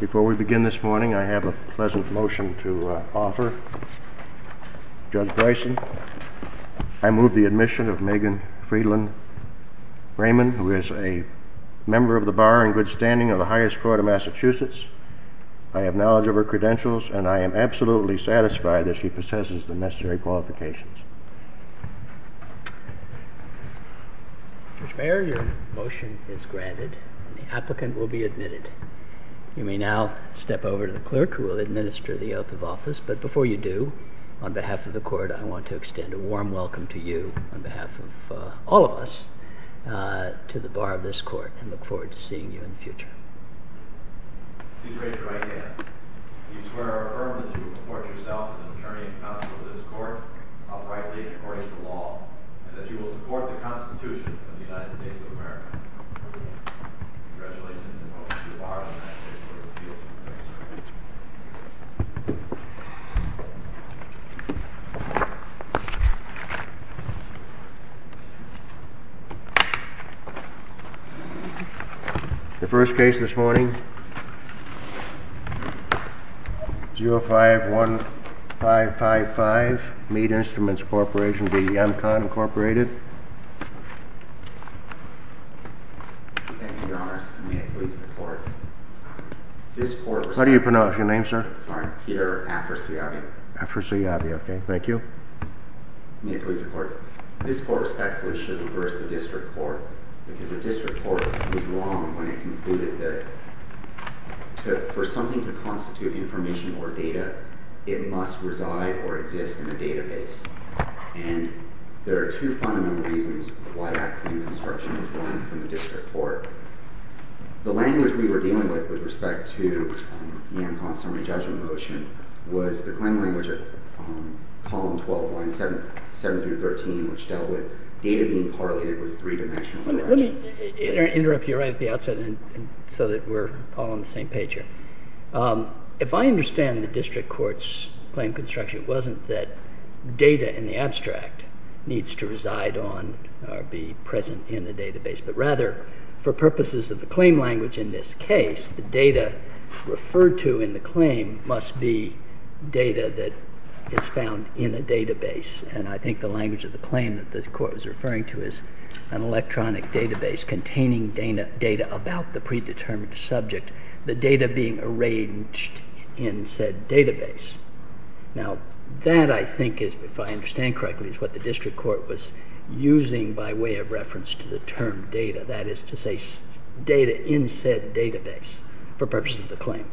Before we begin this morning, I have a pleasant motion to offer. Judge Bryson, I move the admission of Megan Friedland Raymond, who is a member of the Bar and Good Standing of the Highest Court of Massachusetts. I have knowledge of her credentials, and I am absolutely satisfied that she possesses the necessary qualifications. Judge Mayer, your motion is granted, and the applicant will be admitted. You may now step over to the clerk, who will administer the oath of office, but before you do, on behalf of the Court, I want to extend a warm welcome to you, on behalf of all of us, to the Bar of this Court, and look forward to seeing you in the future. Please raise your right hand. We swear and affirm that you will report yourself as an attorney and counsel to this Court, uprightly and according to law, and that you will support the Constitution of the United States of America. Congratulations, and welcome to the Bar of the United States Court of Appeals. The first case this morning, 051555, Meat Instruments Corporation v. Yonkon Incorporated. Thank you, Your Honors. May it please the Court. How do you pronounce your name, sir? Sorry, Peter Afrasiabi. Afrasiabi, okay. Thank you. May it please the Court. This Court respectfully should reverse the District Court, because the District Court was wrong when it concluded that for something to constitute information or data, it must reside or exist in a database, and there are two fundamental reasons why that claim construction was wrong from the District Court. The language we were dealing with, with respect to Yonkon's summary judgment motion, was the claim language of column 12, lines 7 through 13, which dealt with data being correlated with three-dimensional... Let me interrupt you right at the outset, so that we're all on the same page here. If I understand the District Court's claim construction, it wasn't that data in the abstract needs to reside on or be present in the database, but rather, for purposes of the claim language in this case, the data referred to in the claim must be data that is found in a database, and I think the language of the claim that the Court was referring to is an electronic database containing data about the predetermined subject, the data being arranged in said database. Now, that, I think, if I understand correctly, is what the District Court was using by way of reference to the term data, that is to say, data in said database, for purposes of the claim.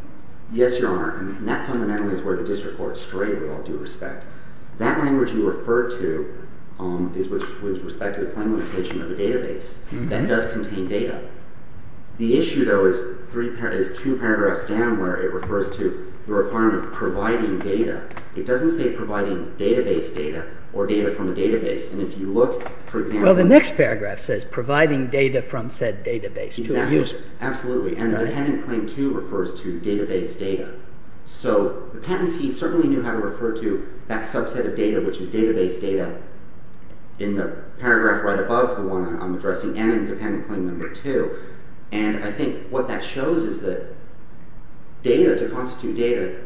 Yes, Your Honor, and that fundamentally is where the District Court strayed with all due respect. That language you referred to is with respect to the claim limitation of a database that does contain data. The issue, though, is two paragraphs down where it refers to the requirement of providing data. It doesn't say providing database data or data from a database, and if you look, for example... Well, the next paragraph says providing data from said database to a user. Exactly. Absolutely. And the Dependent Claim 2 refers to database data, so the patentee certainly knew how to refer to that subset of data, which is database data in the paragraph right above the one I'm addressing, and in Dependent Claim 2. And I think what that shows is that data, to constitute data,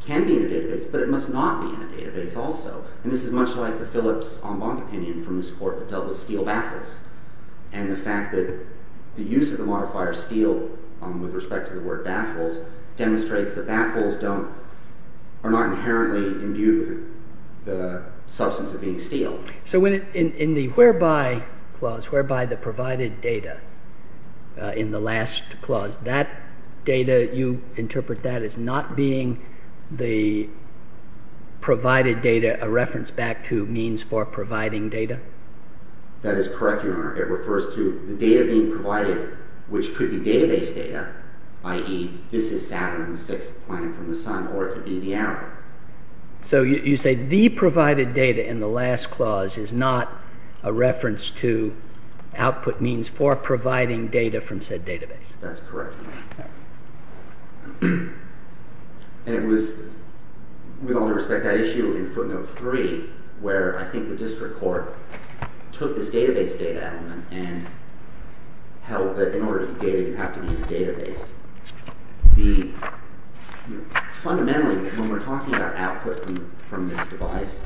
can be in a database, but it must not be in a database also. And this is much like the Phillips en banc opinion from this Court that dealt with steel baffles, and the fact that the use of the modifier steel with respect to the word baffles demonstrates that baffles are not inherently imbued with the substance of being steel. So in the whereby clause, whereby the provided data in the last clause, that data, you interpret that as not being the provided data a reference back to means for providing data? That is correct, Your Honor. It refers to the data being provided, which could be database data, i.e., this is Saturn the sixth planet from the sun, or it could be the arrow. So you say the provided data in the last clause is not a reference to output means for providing data from said database? That's correct, Your Honor. And it was, with all due respect, that issue in footnote 3 where I think the District Court took this database data element and held that in order to be data you have to be in a database. Fundamentally, when we're talking about output from this device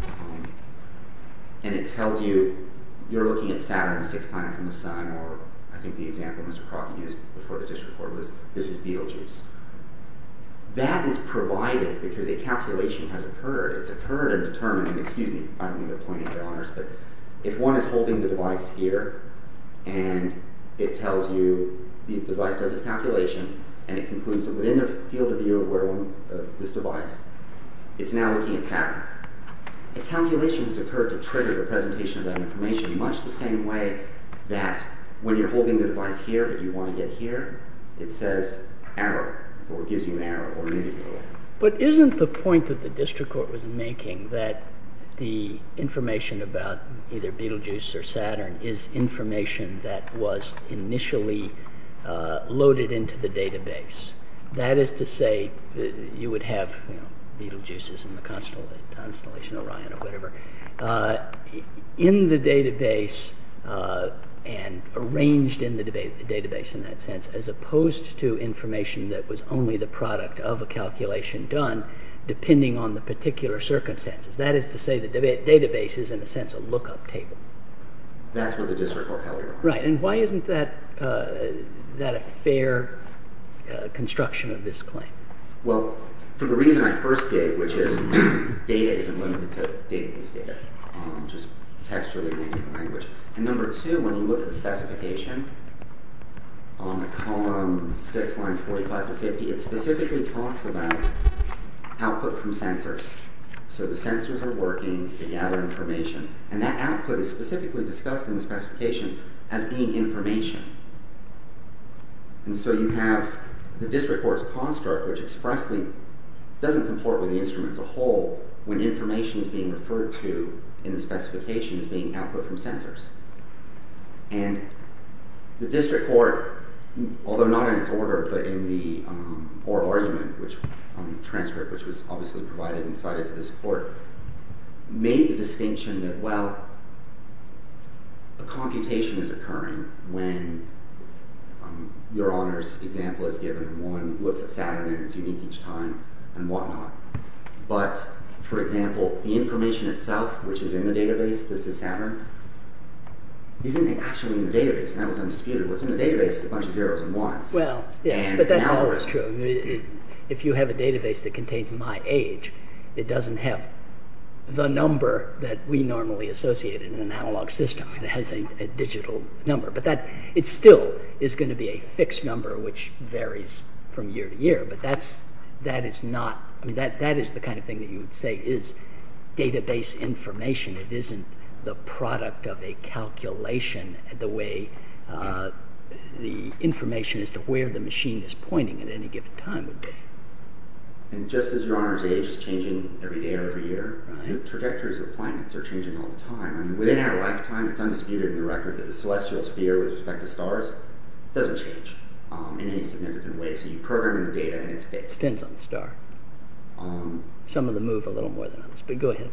and it tells you you're looking at Saturn the sixth planet from the sun, or I think the example Mr. Crockett used before the District Court was this is Betelgeuse, that is provided because a calculation has occurred. It's occurred and determined, and excuse me, I don't mean to point at Your Honors, but if one is holding the device here and it tells you the device does its calculation and it concludes that within the field of view of this device, it's now looking at Saturn, a calculation has occurred to trigger the presentation of that information much the same way that when you're holding the device here but you want to get here, it says arrow, or it gives you an arrow, or you need to get an arrow. But isn't the point that the District Court was making that the information about either Betelgeuse or Saturn is information that was initially loaded into the database? That is to say, you would have Betelgeuse in the constellation Orion or whatever, in the database and arranged in the database in that sense as opposed to information that would have a calculation done depending on the particular circumstances. That is to say, the database is in a sense a look-up table. That's what the District Court held Your Honors. Right, and why isn't that a fair construction of this claim? Well, for the reason I first gave, which is data isn't limited to database data, just text or the language. And number two, when you look at the specification on the column six lines 45 to 50, it's specifically talks about output from sensors. So the sensors are working, they gather information, and that output is specifically discussed in the specification as being information. And so you have the District Court's construct which expressly doesn't comport with the instrument as a whole when information is being referred to in the specification as being output from sensors. And the District Court, although not in its order, but in the oral argument, which was obviously provided and cited to this court, made the distinction that, well, a computation is occurring when Your Honors' example is given, one looks at Saturn and it's unique each time and whatnot. But, for example, the information itself, which is in the database, this is Saturn, isn't it actually in the database? And that was undisputed. What's in the database is a bunch of zeros and ones. Well, yes, but that's always true. If you have a database that contains my age, it doesn't have the number that we normally associate in an analog system. It has a digital number. But that, it still is going to be a fixed number which varies from year to year. But that is not, that is the kind of thing that you would say is database information. It isn't the product of a calculation the way the information as to where the machine is pointing at any given time would be. And just as Your Honors' age is changing every day or every year, trajectories of planets are changing all the time. Within our lifetime, it's undisputed in the record that the celestial sphere with respect to stars doesn't change in any significant way. So you program the data and it's fixed. It depends on the star. Some of them move a little more than others. But go ahead.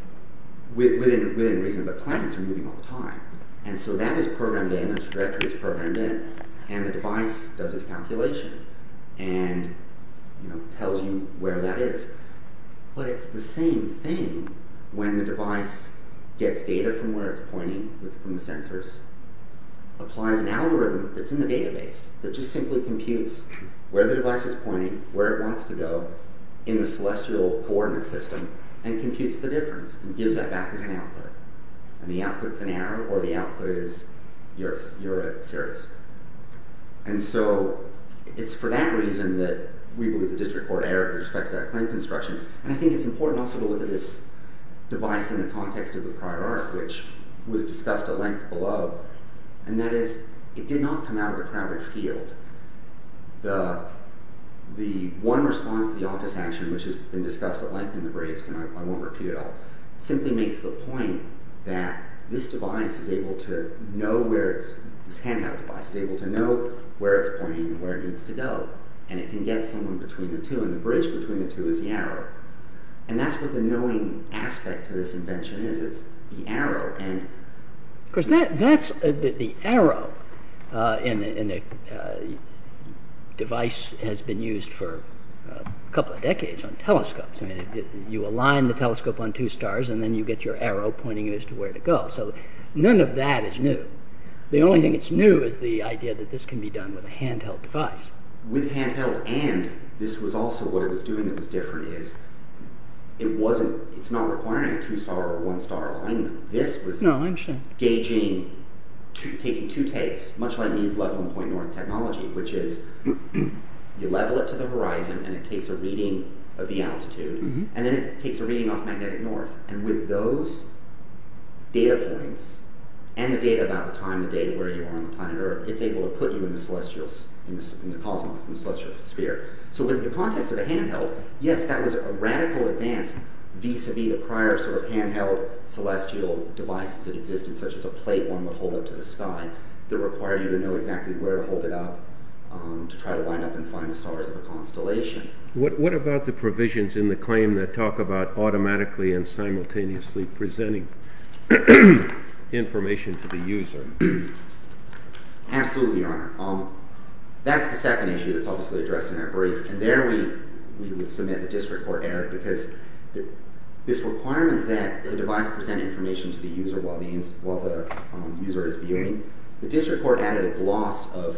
Within reason, but planets are moving all the time. And so that is programmed in, a trajectory is programmed in. And the device does its calculation and tells you where that is. But it's the same thing when the device gets data from where it's pointing from the sensors, applies an algorithm that's in the database that just simply computes where the device is pointing, where it wants to go in the celestial coordinate system, and computes the difference and gives that back as an output. And the output's an error or the output is you're at Sirius. And so it's for that reason that we believe the district court error with respect to that claim construction. And I think it's important also to look at this device in the context of the prior art which was discussed at length below. And that is, it did not come out of a crowded field. The one response to the office action which has been discussed at length in the briefs and I won't repeat it all, simply makes the point that this device is able to know where it's, this handheld device is able to know where it's pointing and where it needs to go. And it can get someone between the two. And the bridge between the two is the arrow. And that's what the knowing aspect to this invention is. It's the arrow. Of course that's, the arrow in a device has been used for a couple of decades on telescopes. You align the telescope on two stars and then you get your arrow pointing as to where to go. So none of that is new. The only thing that's new is the idea that this can be done with a handheld device. With handheld and this was also what it was doing that was different is it wasn't, it's not requiring a two star or one star alignment. This was gauging, taking two takes, much like means level and point north technology, which is you level it to the horizon and it takes a reading of the altitude and then it takes a reading off magnetic north. And with those data points and the data about the time, the date, where you are on the planet Earth, it's able to put you in the celestial, in the cosmos, in the celestial sphere. So with the context of the handheld, yes that was a radical advance. Vis-a-vis the prior sort of handheld celestial devices that existed, such as a plate one would hold up to the sky, that required you to know exactly where to hold it up to try to line up and find the stars of a constellation. What about the provisions in the claim that talk about automatically and simultaneously presenting information to the user? Absolutely, your honor. That's the second issue that's obviously addressed in our brief. And there we would submit a disreport error, because this requirement that the device present information to the user while the user is viewing, the disreport added a gloss of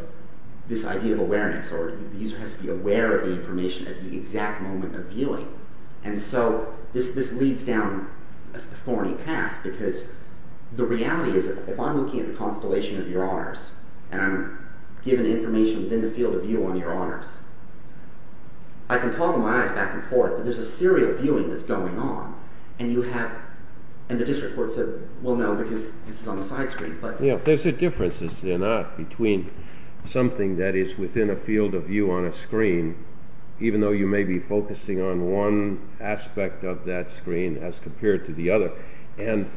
this idea of awareness, or the user has to be aware of the information at the exact moment of viewing. And so this leads down a thorny path, because the reality is if I'm looking at the constellation of your honors I can talk with my eyes back and forth, but there's a serial viewing that's going on, and you have, and the disreport said, well no, because this is on the side screen. There's a difference, is there not, between something that is within a field of view on a screen, even though you may be focusing on one aspect of that screen as compared to the other, and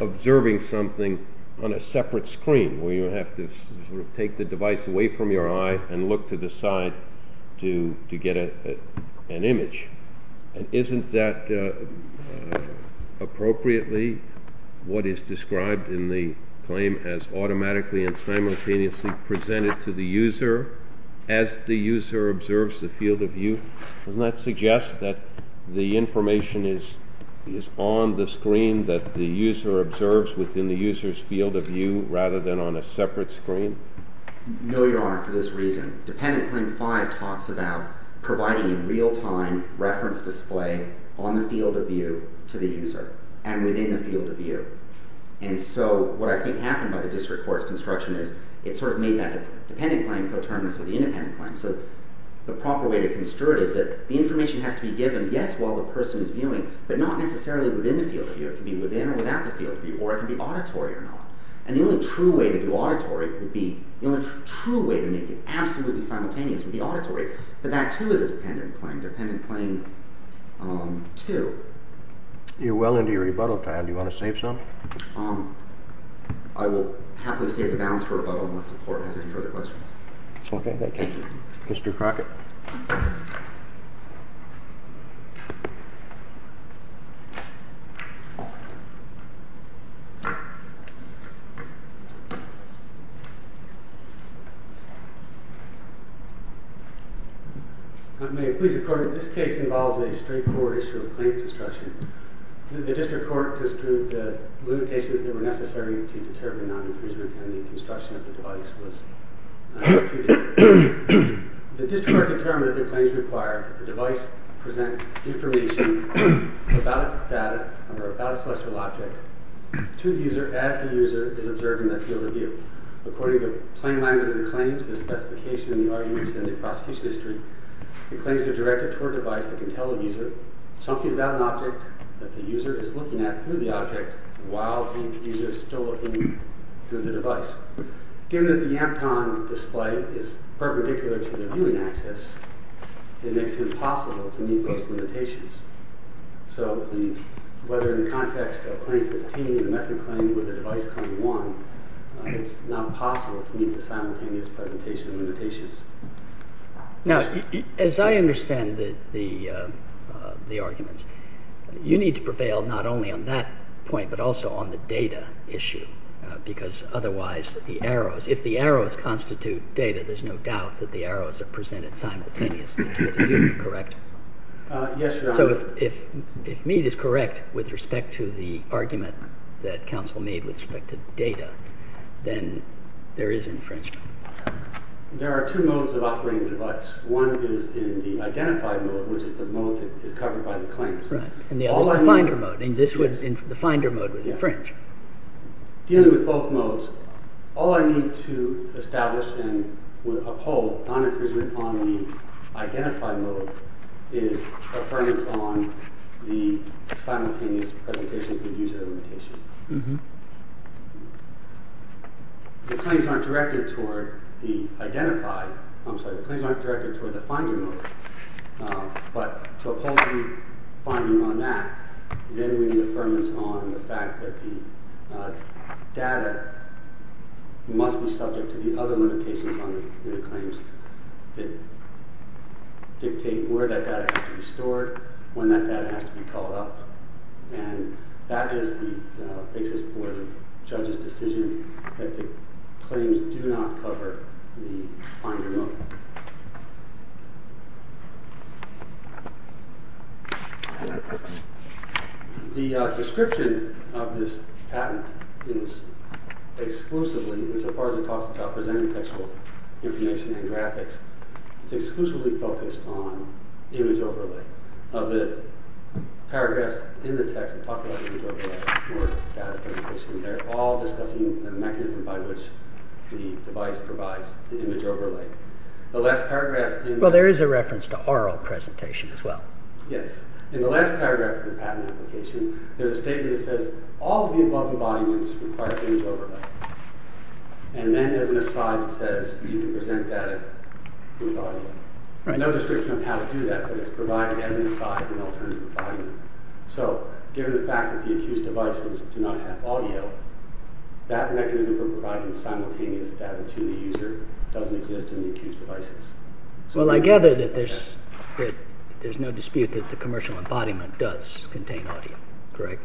observing something on a separate screen, where you have to sort of take the device away from your eye, and look to the side to get an image. And isn't that appropriately what is described in the claim as automatically and simultaneously presented to the user as the user observes the field of view? Doesn't that suggest that the information is on the screen that the user observes within the user's field of view, rather than on a separate screen? No, Your Honor, for this reason. Dependent Claim 5 talks about providing a real-time reference display on the field of view to the user, and within the field of view. And so what I think happened by the district court's construction is it sort of made that dependent claim co-terminus with the independent claim. So the proper way to construe it is that the information has to be given, yes, while the person is viewing, but not necessarily within the field of view. It can be within or without the field of view, or it can be auditory or not. And the only true way to make it absolutely simultaneous would be auditory. But that, too, is a dependent claim. Dependent Claim 2. You're well into your rebuttal time. Do you want to save some? I will happily save the balance for rebuttal, unless the court has any further questions. Okay, thank you. Thank you. Mr. Crockett. May it please the court, this case involves a straightforward issue of claim construction. The district court construed the limitations that were necessary to determine non-inclusion in the construction of the device was executed. The district court determined that the claims required that the device present information about the data or about a celestial object to the user as the user is observing that field of view. According to plain language of the claims, the specification, the arguments, and the prosecution history, the claims are directed toward a device that can tell a user something about an object that the user is looking at through the object while the user is still looking through the device. Given that the Ampton display is perpendicular to the viewing axis, it makes it impossible to meet those limitations. So whether in the context of claim 15, the method claim, or the device claim 1, it's not possible to meet the simultaneous presentation limitations. Now, as I understand the arguments, you need to prevail not only on that point, but also on the data issue, because otherwise the arrows, if the arrows constitute data, there's no doubt that the arrows are presented simultaneously to the user, correct? Yes, Your Honor. So if Meade is correct with respect to the argument that counsel made with respect to data, then there is infringement. There are two modes of operating the device. One is in the identified mode, which is the mode that is covered by the claims. And the other is the finder mode, and the finder mode would infringe. Dealing with both modes, all I need to establish and uphold non-infringement on the identified mode is affirmance on the simultaneous presentation of the user limitation. The claims aren't directed toward the identified, I'm sorry, the claims aren't directed toward the finder mode, but to uphold the finding on that, then we need affirmance on the fact that the data must be subject to the other limitations on the claims that dictate where that data has to be stored, when that data has to be called up. And that is the basis for the judge's decision that the claims do not cover the finder mode. The description of this patent is exclusively, insofar as it talks about presenting textual information and graphics, it's exclusively focused on image overlay. Of the paragraphs in the text that talk about image overlay or data presentation, they're all discussing the mechanism by which the device provides the image overlay. Well, there is a reference to oral presentation as well. Yes. In the last paragraph of the patent application, there's a statement that says all of the above embodiments require image overlay. And then as an aside, it says you can present data with audio. No description of how to do that, but it's provided as an aside in alternative embodiment. So, given the fact that the accused devices do not have audio, that mechanism for providing simultaneous data to the user doesn't exist in the accused devices. Well, I gather that there's no dispute that the commercial embodiment does contain audio, correct?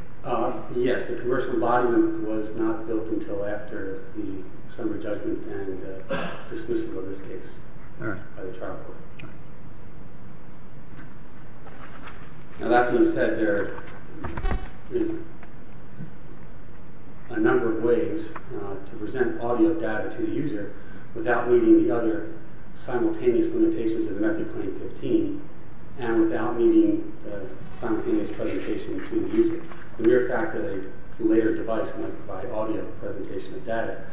Yes. The commercial embodiment was not built until after the summary judgment and dismissal of this case by the trial court. Now, that being said, there is a number of ways to present audio data to the user without meeting the other simultaneous limitations that are met in Claim 15 and without meeting the simultaneous presentation between the user. The mere fact that a later device won't provide audio presentation of data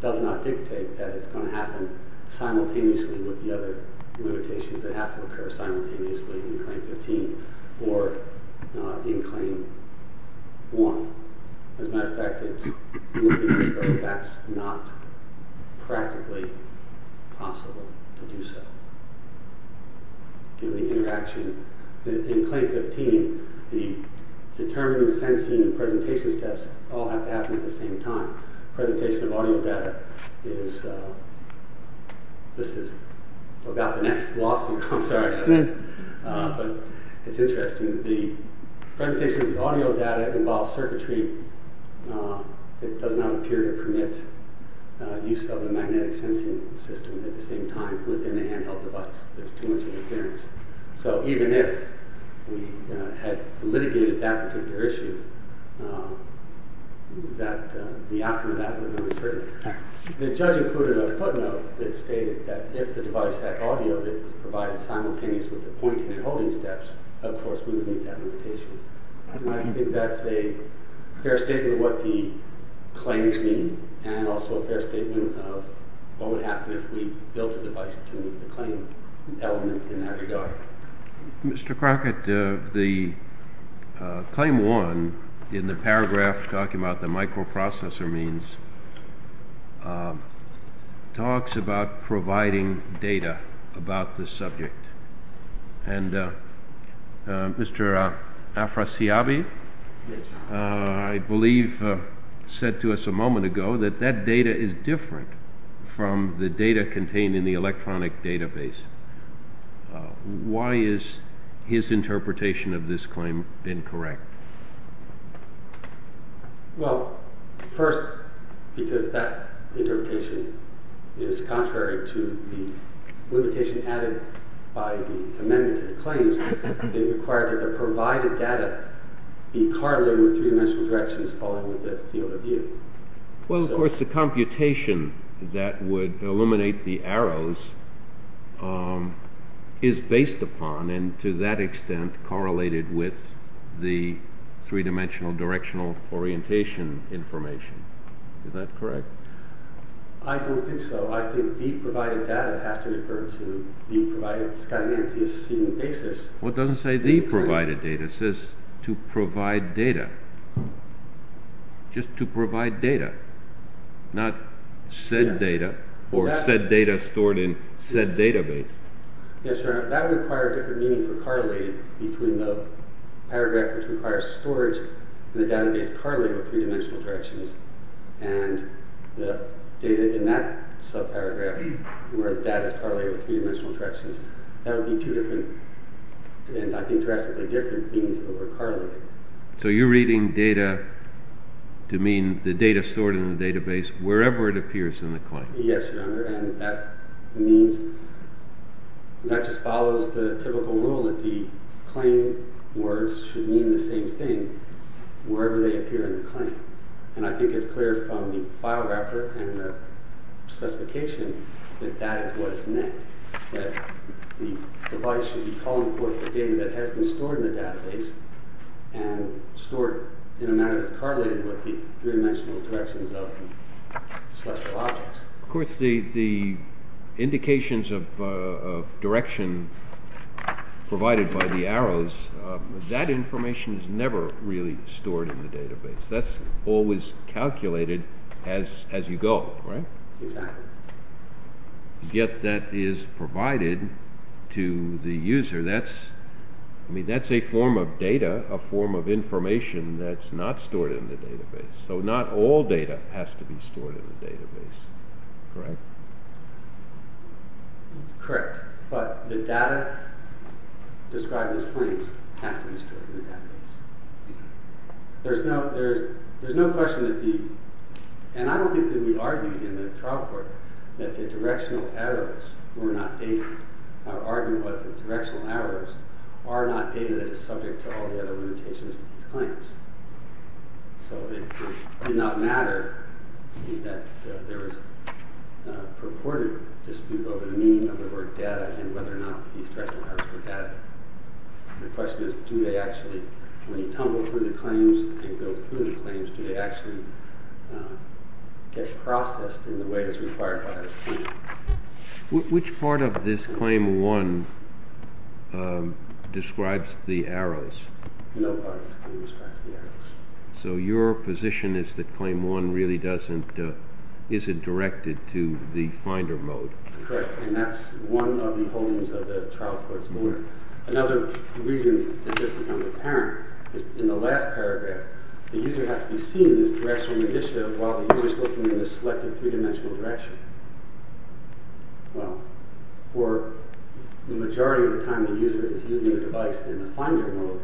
does not dictate that it's going to happen simultaneously with the other limitations that have to occur simultaneously in Claim 15 or in Claim 1. As a matter of fact, that's not practically possible to do so. Given the interaction in Claim 15, the determining, sensing, and presentation steps all have to happen at the same time. Presentation of audio data is... This is about the next glossary. I'm sorry. But it's interesting. The presentation of audio data involves circuitry that does not appear to permit use of the magnetic sensing system at the same time within a handheld device. There's too much interference. So even if we had litigated that particular issue, the outcome of that would be uncertain. The judge included a footnote that stated that if the device had audio that was provided simultaneous with the pointing and holding steps, of course, we would meet that limitation. I think that's a fair statement of what the claims mean and also a fair statement of what would happen if we built a device to meet the claim element in that regard. Mr. Crockett, the Claim 1, in the paragraph talking about the microprocessor means, talks about providing data about the subject. And Mr. Afrasiabi, I believe, said to us a moment ago that that data is different from the data contained in the electronic database. Why has his interpretation of this claim been correct? Well, first, because that interpretation is contrary to the limitation added by the amendment to the claims. It required that the provided data be correlated with three-dimensional directions following the field of view. Well, of course, the computation that would illuminate the arrows is based upon and to that extent correlated with the three-dimensional directional orientation information. Is that correct? I don't think so. I think the provided data has to refer to the provided scanty antecedent basis. Well, it doesn't say the provided data. It says to provide data. Just to provide data, not said data or said data stored in said database. Yes, Your Honor. That would require a different meaning for correlated between the paragraph which requires storage and the database correlated with three-dimensional directions. And the data in that subparagraph where the data is correlated with three-dimensional directions, that would be two different, and I think drastically different, things that were correlated. So you're reading data to mean the data stored in the database wherever it appears in the claim. Yes, Your Honor, and that means that just follows the typical rule that the claim words should mean the same thing wherever they appear in the claim. And I think it's clear from the file wrapper and the specification that that is what is meant, that the device should be calling forth the data that has been stored in the database and stored in a manner that's correlated with the three-dimensional directions of the celestial objects. Of course, the indications of direction provided by the arrows, that information is never really stored in the database. That's always calculated as you go, right? Exactly. Yet that is provided to the user. That's a form of data, a form of information that's not stored in the database. So not all data has to be stored in the database. Correct? Correct. But the data described in this claim has to be stored in the database. There's no question that the... And I don't think that we argued in the trial court that the directional arrows were not data. Our argument was that directional arrows are not data that is subject to all the other limitations of these claims. So it did not matter that there was a purported dispute over the meaning of the word data and whether or not these directional arrows were data. The question is, do they actually... When you tumble through the claims and go through the claims, do they actually get processed in the way that's required by this claim? Which part of this Claim 1 describes the arrows? No part of this claim describes the arrows. So your position is that Claim 1 really doesn't... isn't directed to the finder mode. Correct, and that's one of the holdings of the trial court's order. Another reason that just becomes apparent is in the last paragraph, the user has to be seen in this directional initiative while the user is looking in this selected three-dimensional direction. Well, for the majority of the time the user is using the device in the finder mode,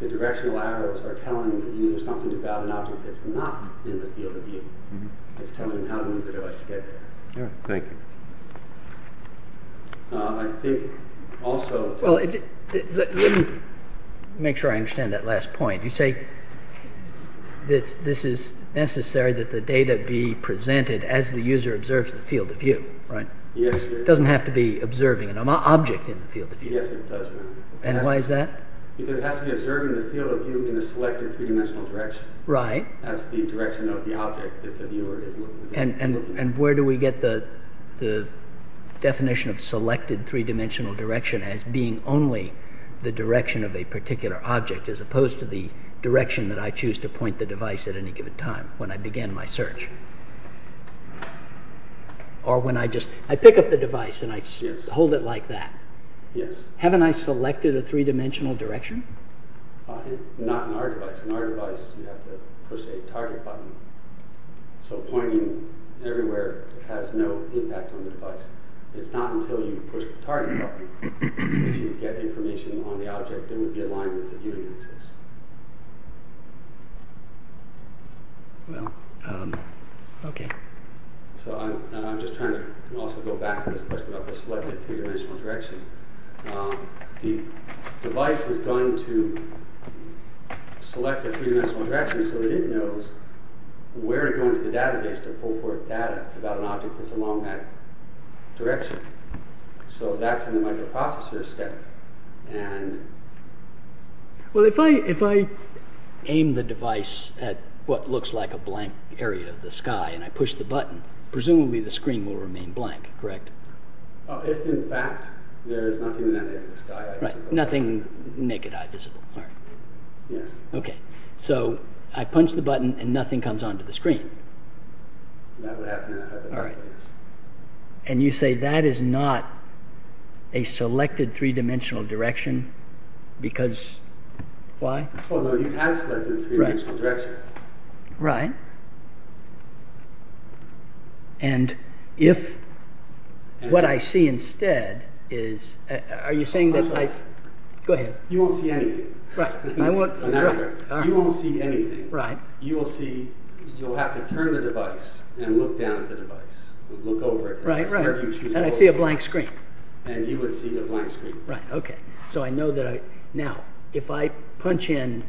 the directional arrows are telling the user something about an object that's not in the field of view. It's telling him how to move the device to get there. Thank you. I think also... Let me make sure I understand that last point. You say that this is necessary that the data be presented as the user observes the field of view, right? Yes. It doesn't have to be observing an object in the field of view. Yes, it does. And why is that? Because it has to be observing the field of view in a selected three-dimensional direction. That's the direction of the object that the viewer is looking at. And where do we get the definition of selected three-dimensional direction as being only the direction of a particular object as opposed to the direction that I choose to point the device at any given time when I begin my search? Or when I just... I pick up the device and I hold it like that. Yes. Haven't I selected a three-dimensional direction? Not in our device. In our device you have to push a target button. So pointing everywhere has no impact on the device. It's not until you push the target button that you get information on the object that would be aligned with the viewing axis. Well, okay. So I'm just trying to also go back to this question about the selected three-dimensional direction. The device is going to select a three-dimensional direction so that it knows where to go into the database to pull forth data about an object that's along that direction. So that's in the microprocessor's step. Well, if I aim the device at what looks like a blank area of the sky and I push the button, presumably the screen will remain blank, correct? If, in fact, there is nothing in that area of the sky. Right, nothing naked-eye visible. Yes. Okay, so I punch the button and nothing comes onto the screen. That would happen in that type of database. And you say that is not a selected three-dimensional direction because... why? Oh, no, you have selected a three-dimensional direction. Right. And if what I see instead is... Are you saying that I... Go ahead. You won't see anything. Right, I won't... You won't see anything. You will see... You'll have to turn the device and look down at the device. Look over it. Right, right. And I see a blank screen. And you would see a blank screen. Right, okay. So I know that I... Now, if I punch in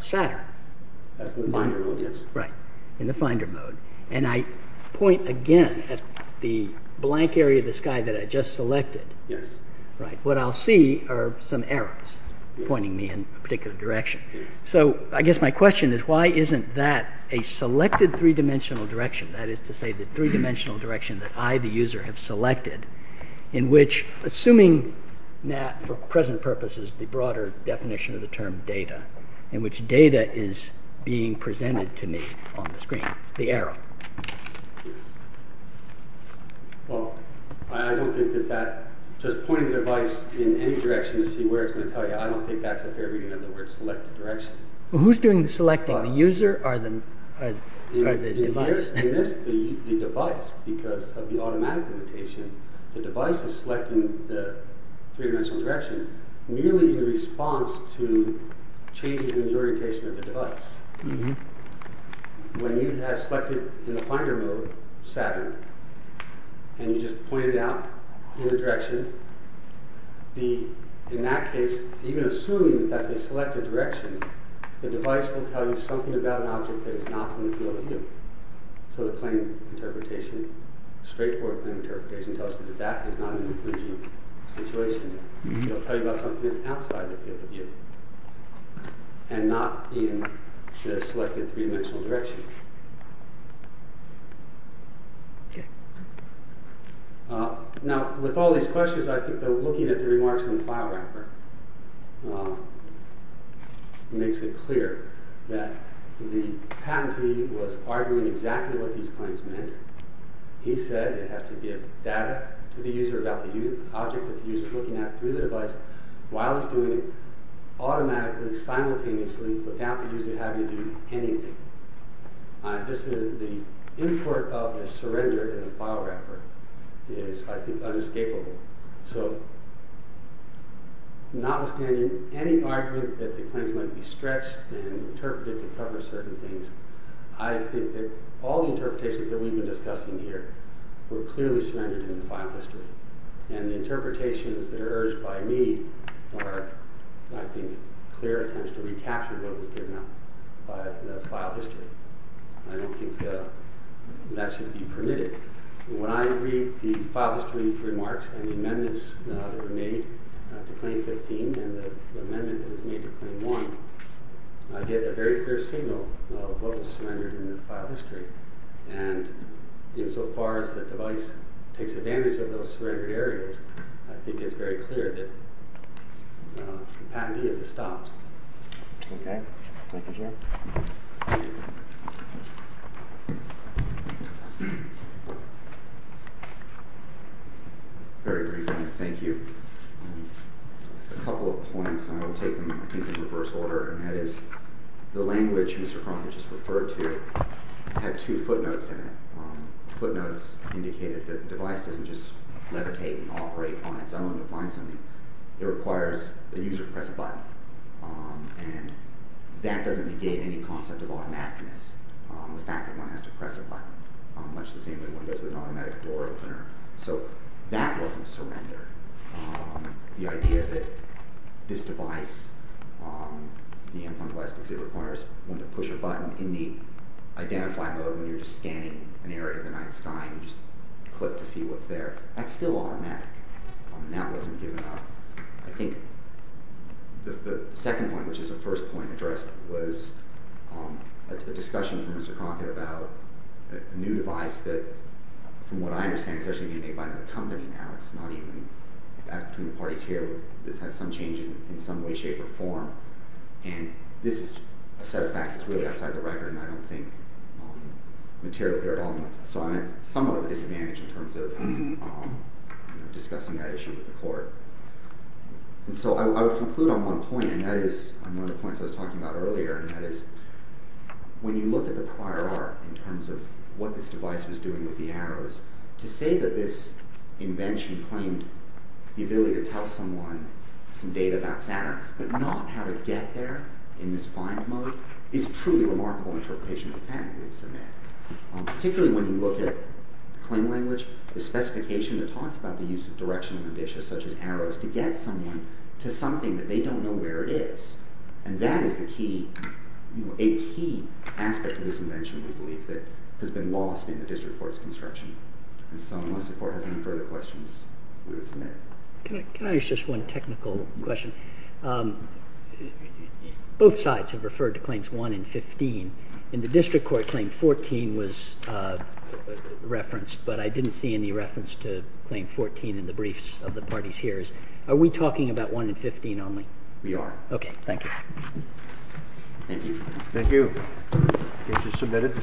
Saturn... That's in the finder mode, yes. Right, in the finder mode. And I point again at the blank area of the sky that I just selected. Yes. Right. What I'll see are some arrows pointing me in a particular direction. So I guess my question is why isn't that a selected three-dimensional direction? That is to say the three-dimensional direction that I, the user, have selected in which, assuming that for present purposes the broader definition of the term data in which data is being presented to me on the screen. The arrow. Well, I don't think that that... Just pointing the device in any direction to see where it's going to tell you. I don't think that's a fair reading of the word selected direction. Well, who's doing the selecting? The user or the device? The device. Because of the automatic limitation the device is selecting the three-dimensional direction merely in response to changes in the orientation of the device. When you have selected in the finder mode Saturn and you just point it out in the direction in that case, even assuming that's a selected direction the device will tell you something about an object that is not in the field of view. So the claim interpretation straightforward claim interpretation tells us that that is not an encouraging situation. It will tell you about something that's outside the field of view and not in the selected three-dimensional direction. Okay. Now, with all these questions I think that looking at the remarks from the file wrapper makes it clear that the patentee was arguing exactly what these claims meant. He said it has to give data to the user about the object that the user is looking at through the device while it's doing it automatically, simultaneously without the user having to do anything. This is the import of a surrender in a file wrapper is, I think, unescapable. So, notwithstanding any argument that the claims might be stretched and interpreted to cover certain things I think that all the interpretations that we've been discussing here were clearly surrendered in the file history. And the interpretations that are urged by me are, I think, clear attempts to recapture what was given out by the file history. I don't think that should be permitted. When I read the file history remarks and the amendments that were made to Claim 15 and the amendment that was made to Claim 1 I get a very clear signal of what was surrendered in the file history. And insofar as the device takes advantage of those surrendered areas I think it's very clear that the patentee is stopped. Okay. Thank you, Jim. Very briefly, thank you. A couple of points, and I will take them, I think, in reverse order. And that is, the language Mr. Cronin just referred to had two footnotes in it. Footnotes indicated that the device doesn't just levitate and operate on its own to find something. It requires the user to press a button. And that doesn't negate any concept of automaticness, the fact that one has to press a button, much the same way one does with an automatic door opener. So that wasn't surrendered. The idea that this device, the M1 device, because it requires one to push a button in the identify mode when you're just scanning an area of the night sky and you just click to see what's there, that's still automatic. That wasn't given up. I think the second point, which is the first point addressed, was a discussion from Mr. Cronin about a new device that, from what I understand, is actually being made by another company now. It's not even between the parties here. It's had some changes in some way, shape, or form. And this is a set of facts that's really outside the record, and I don't think material there at all. So I'm at somewhat of a disadvantage in terms of discussing that issue with the court. And so I would conclude on one point, and that is one of the points I was talking about earlier, and that is when you look at the prior art in terms of what this device was doing with the arrows, to say that this invention claimed the ability to tell someone some data about Saturn but not how to get there in this find mode is a truly remarkable interpretation of the fact that it's a man. Particularly when you look at claim language, the specification that talks about the use of direction and indicia, such as arrows, to get someone to something that they don't know where it is. And that is a key aspect of this invention, we believe, that has been lost in the district court's construction. So unless the court has any further questions, we will submit. Can I ask just one technical question? Both sides have referred to Claims 1 and 15. In the district court, Claim 14 was referenced, but I didn't see any reference to Claim 14 in the briefs of the parties here. Are we talking about 1 and 15 only? We are. Okay, thank you. Thank you. Thank you. Case is submitted.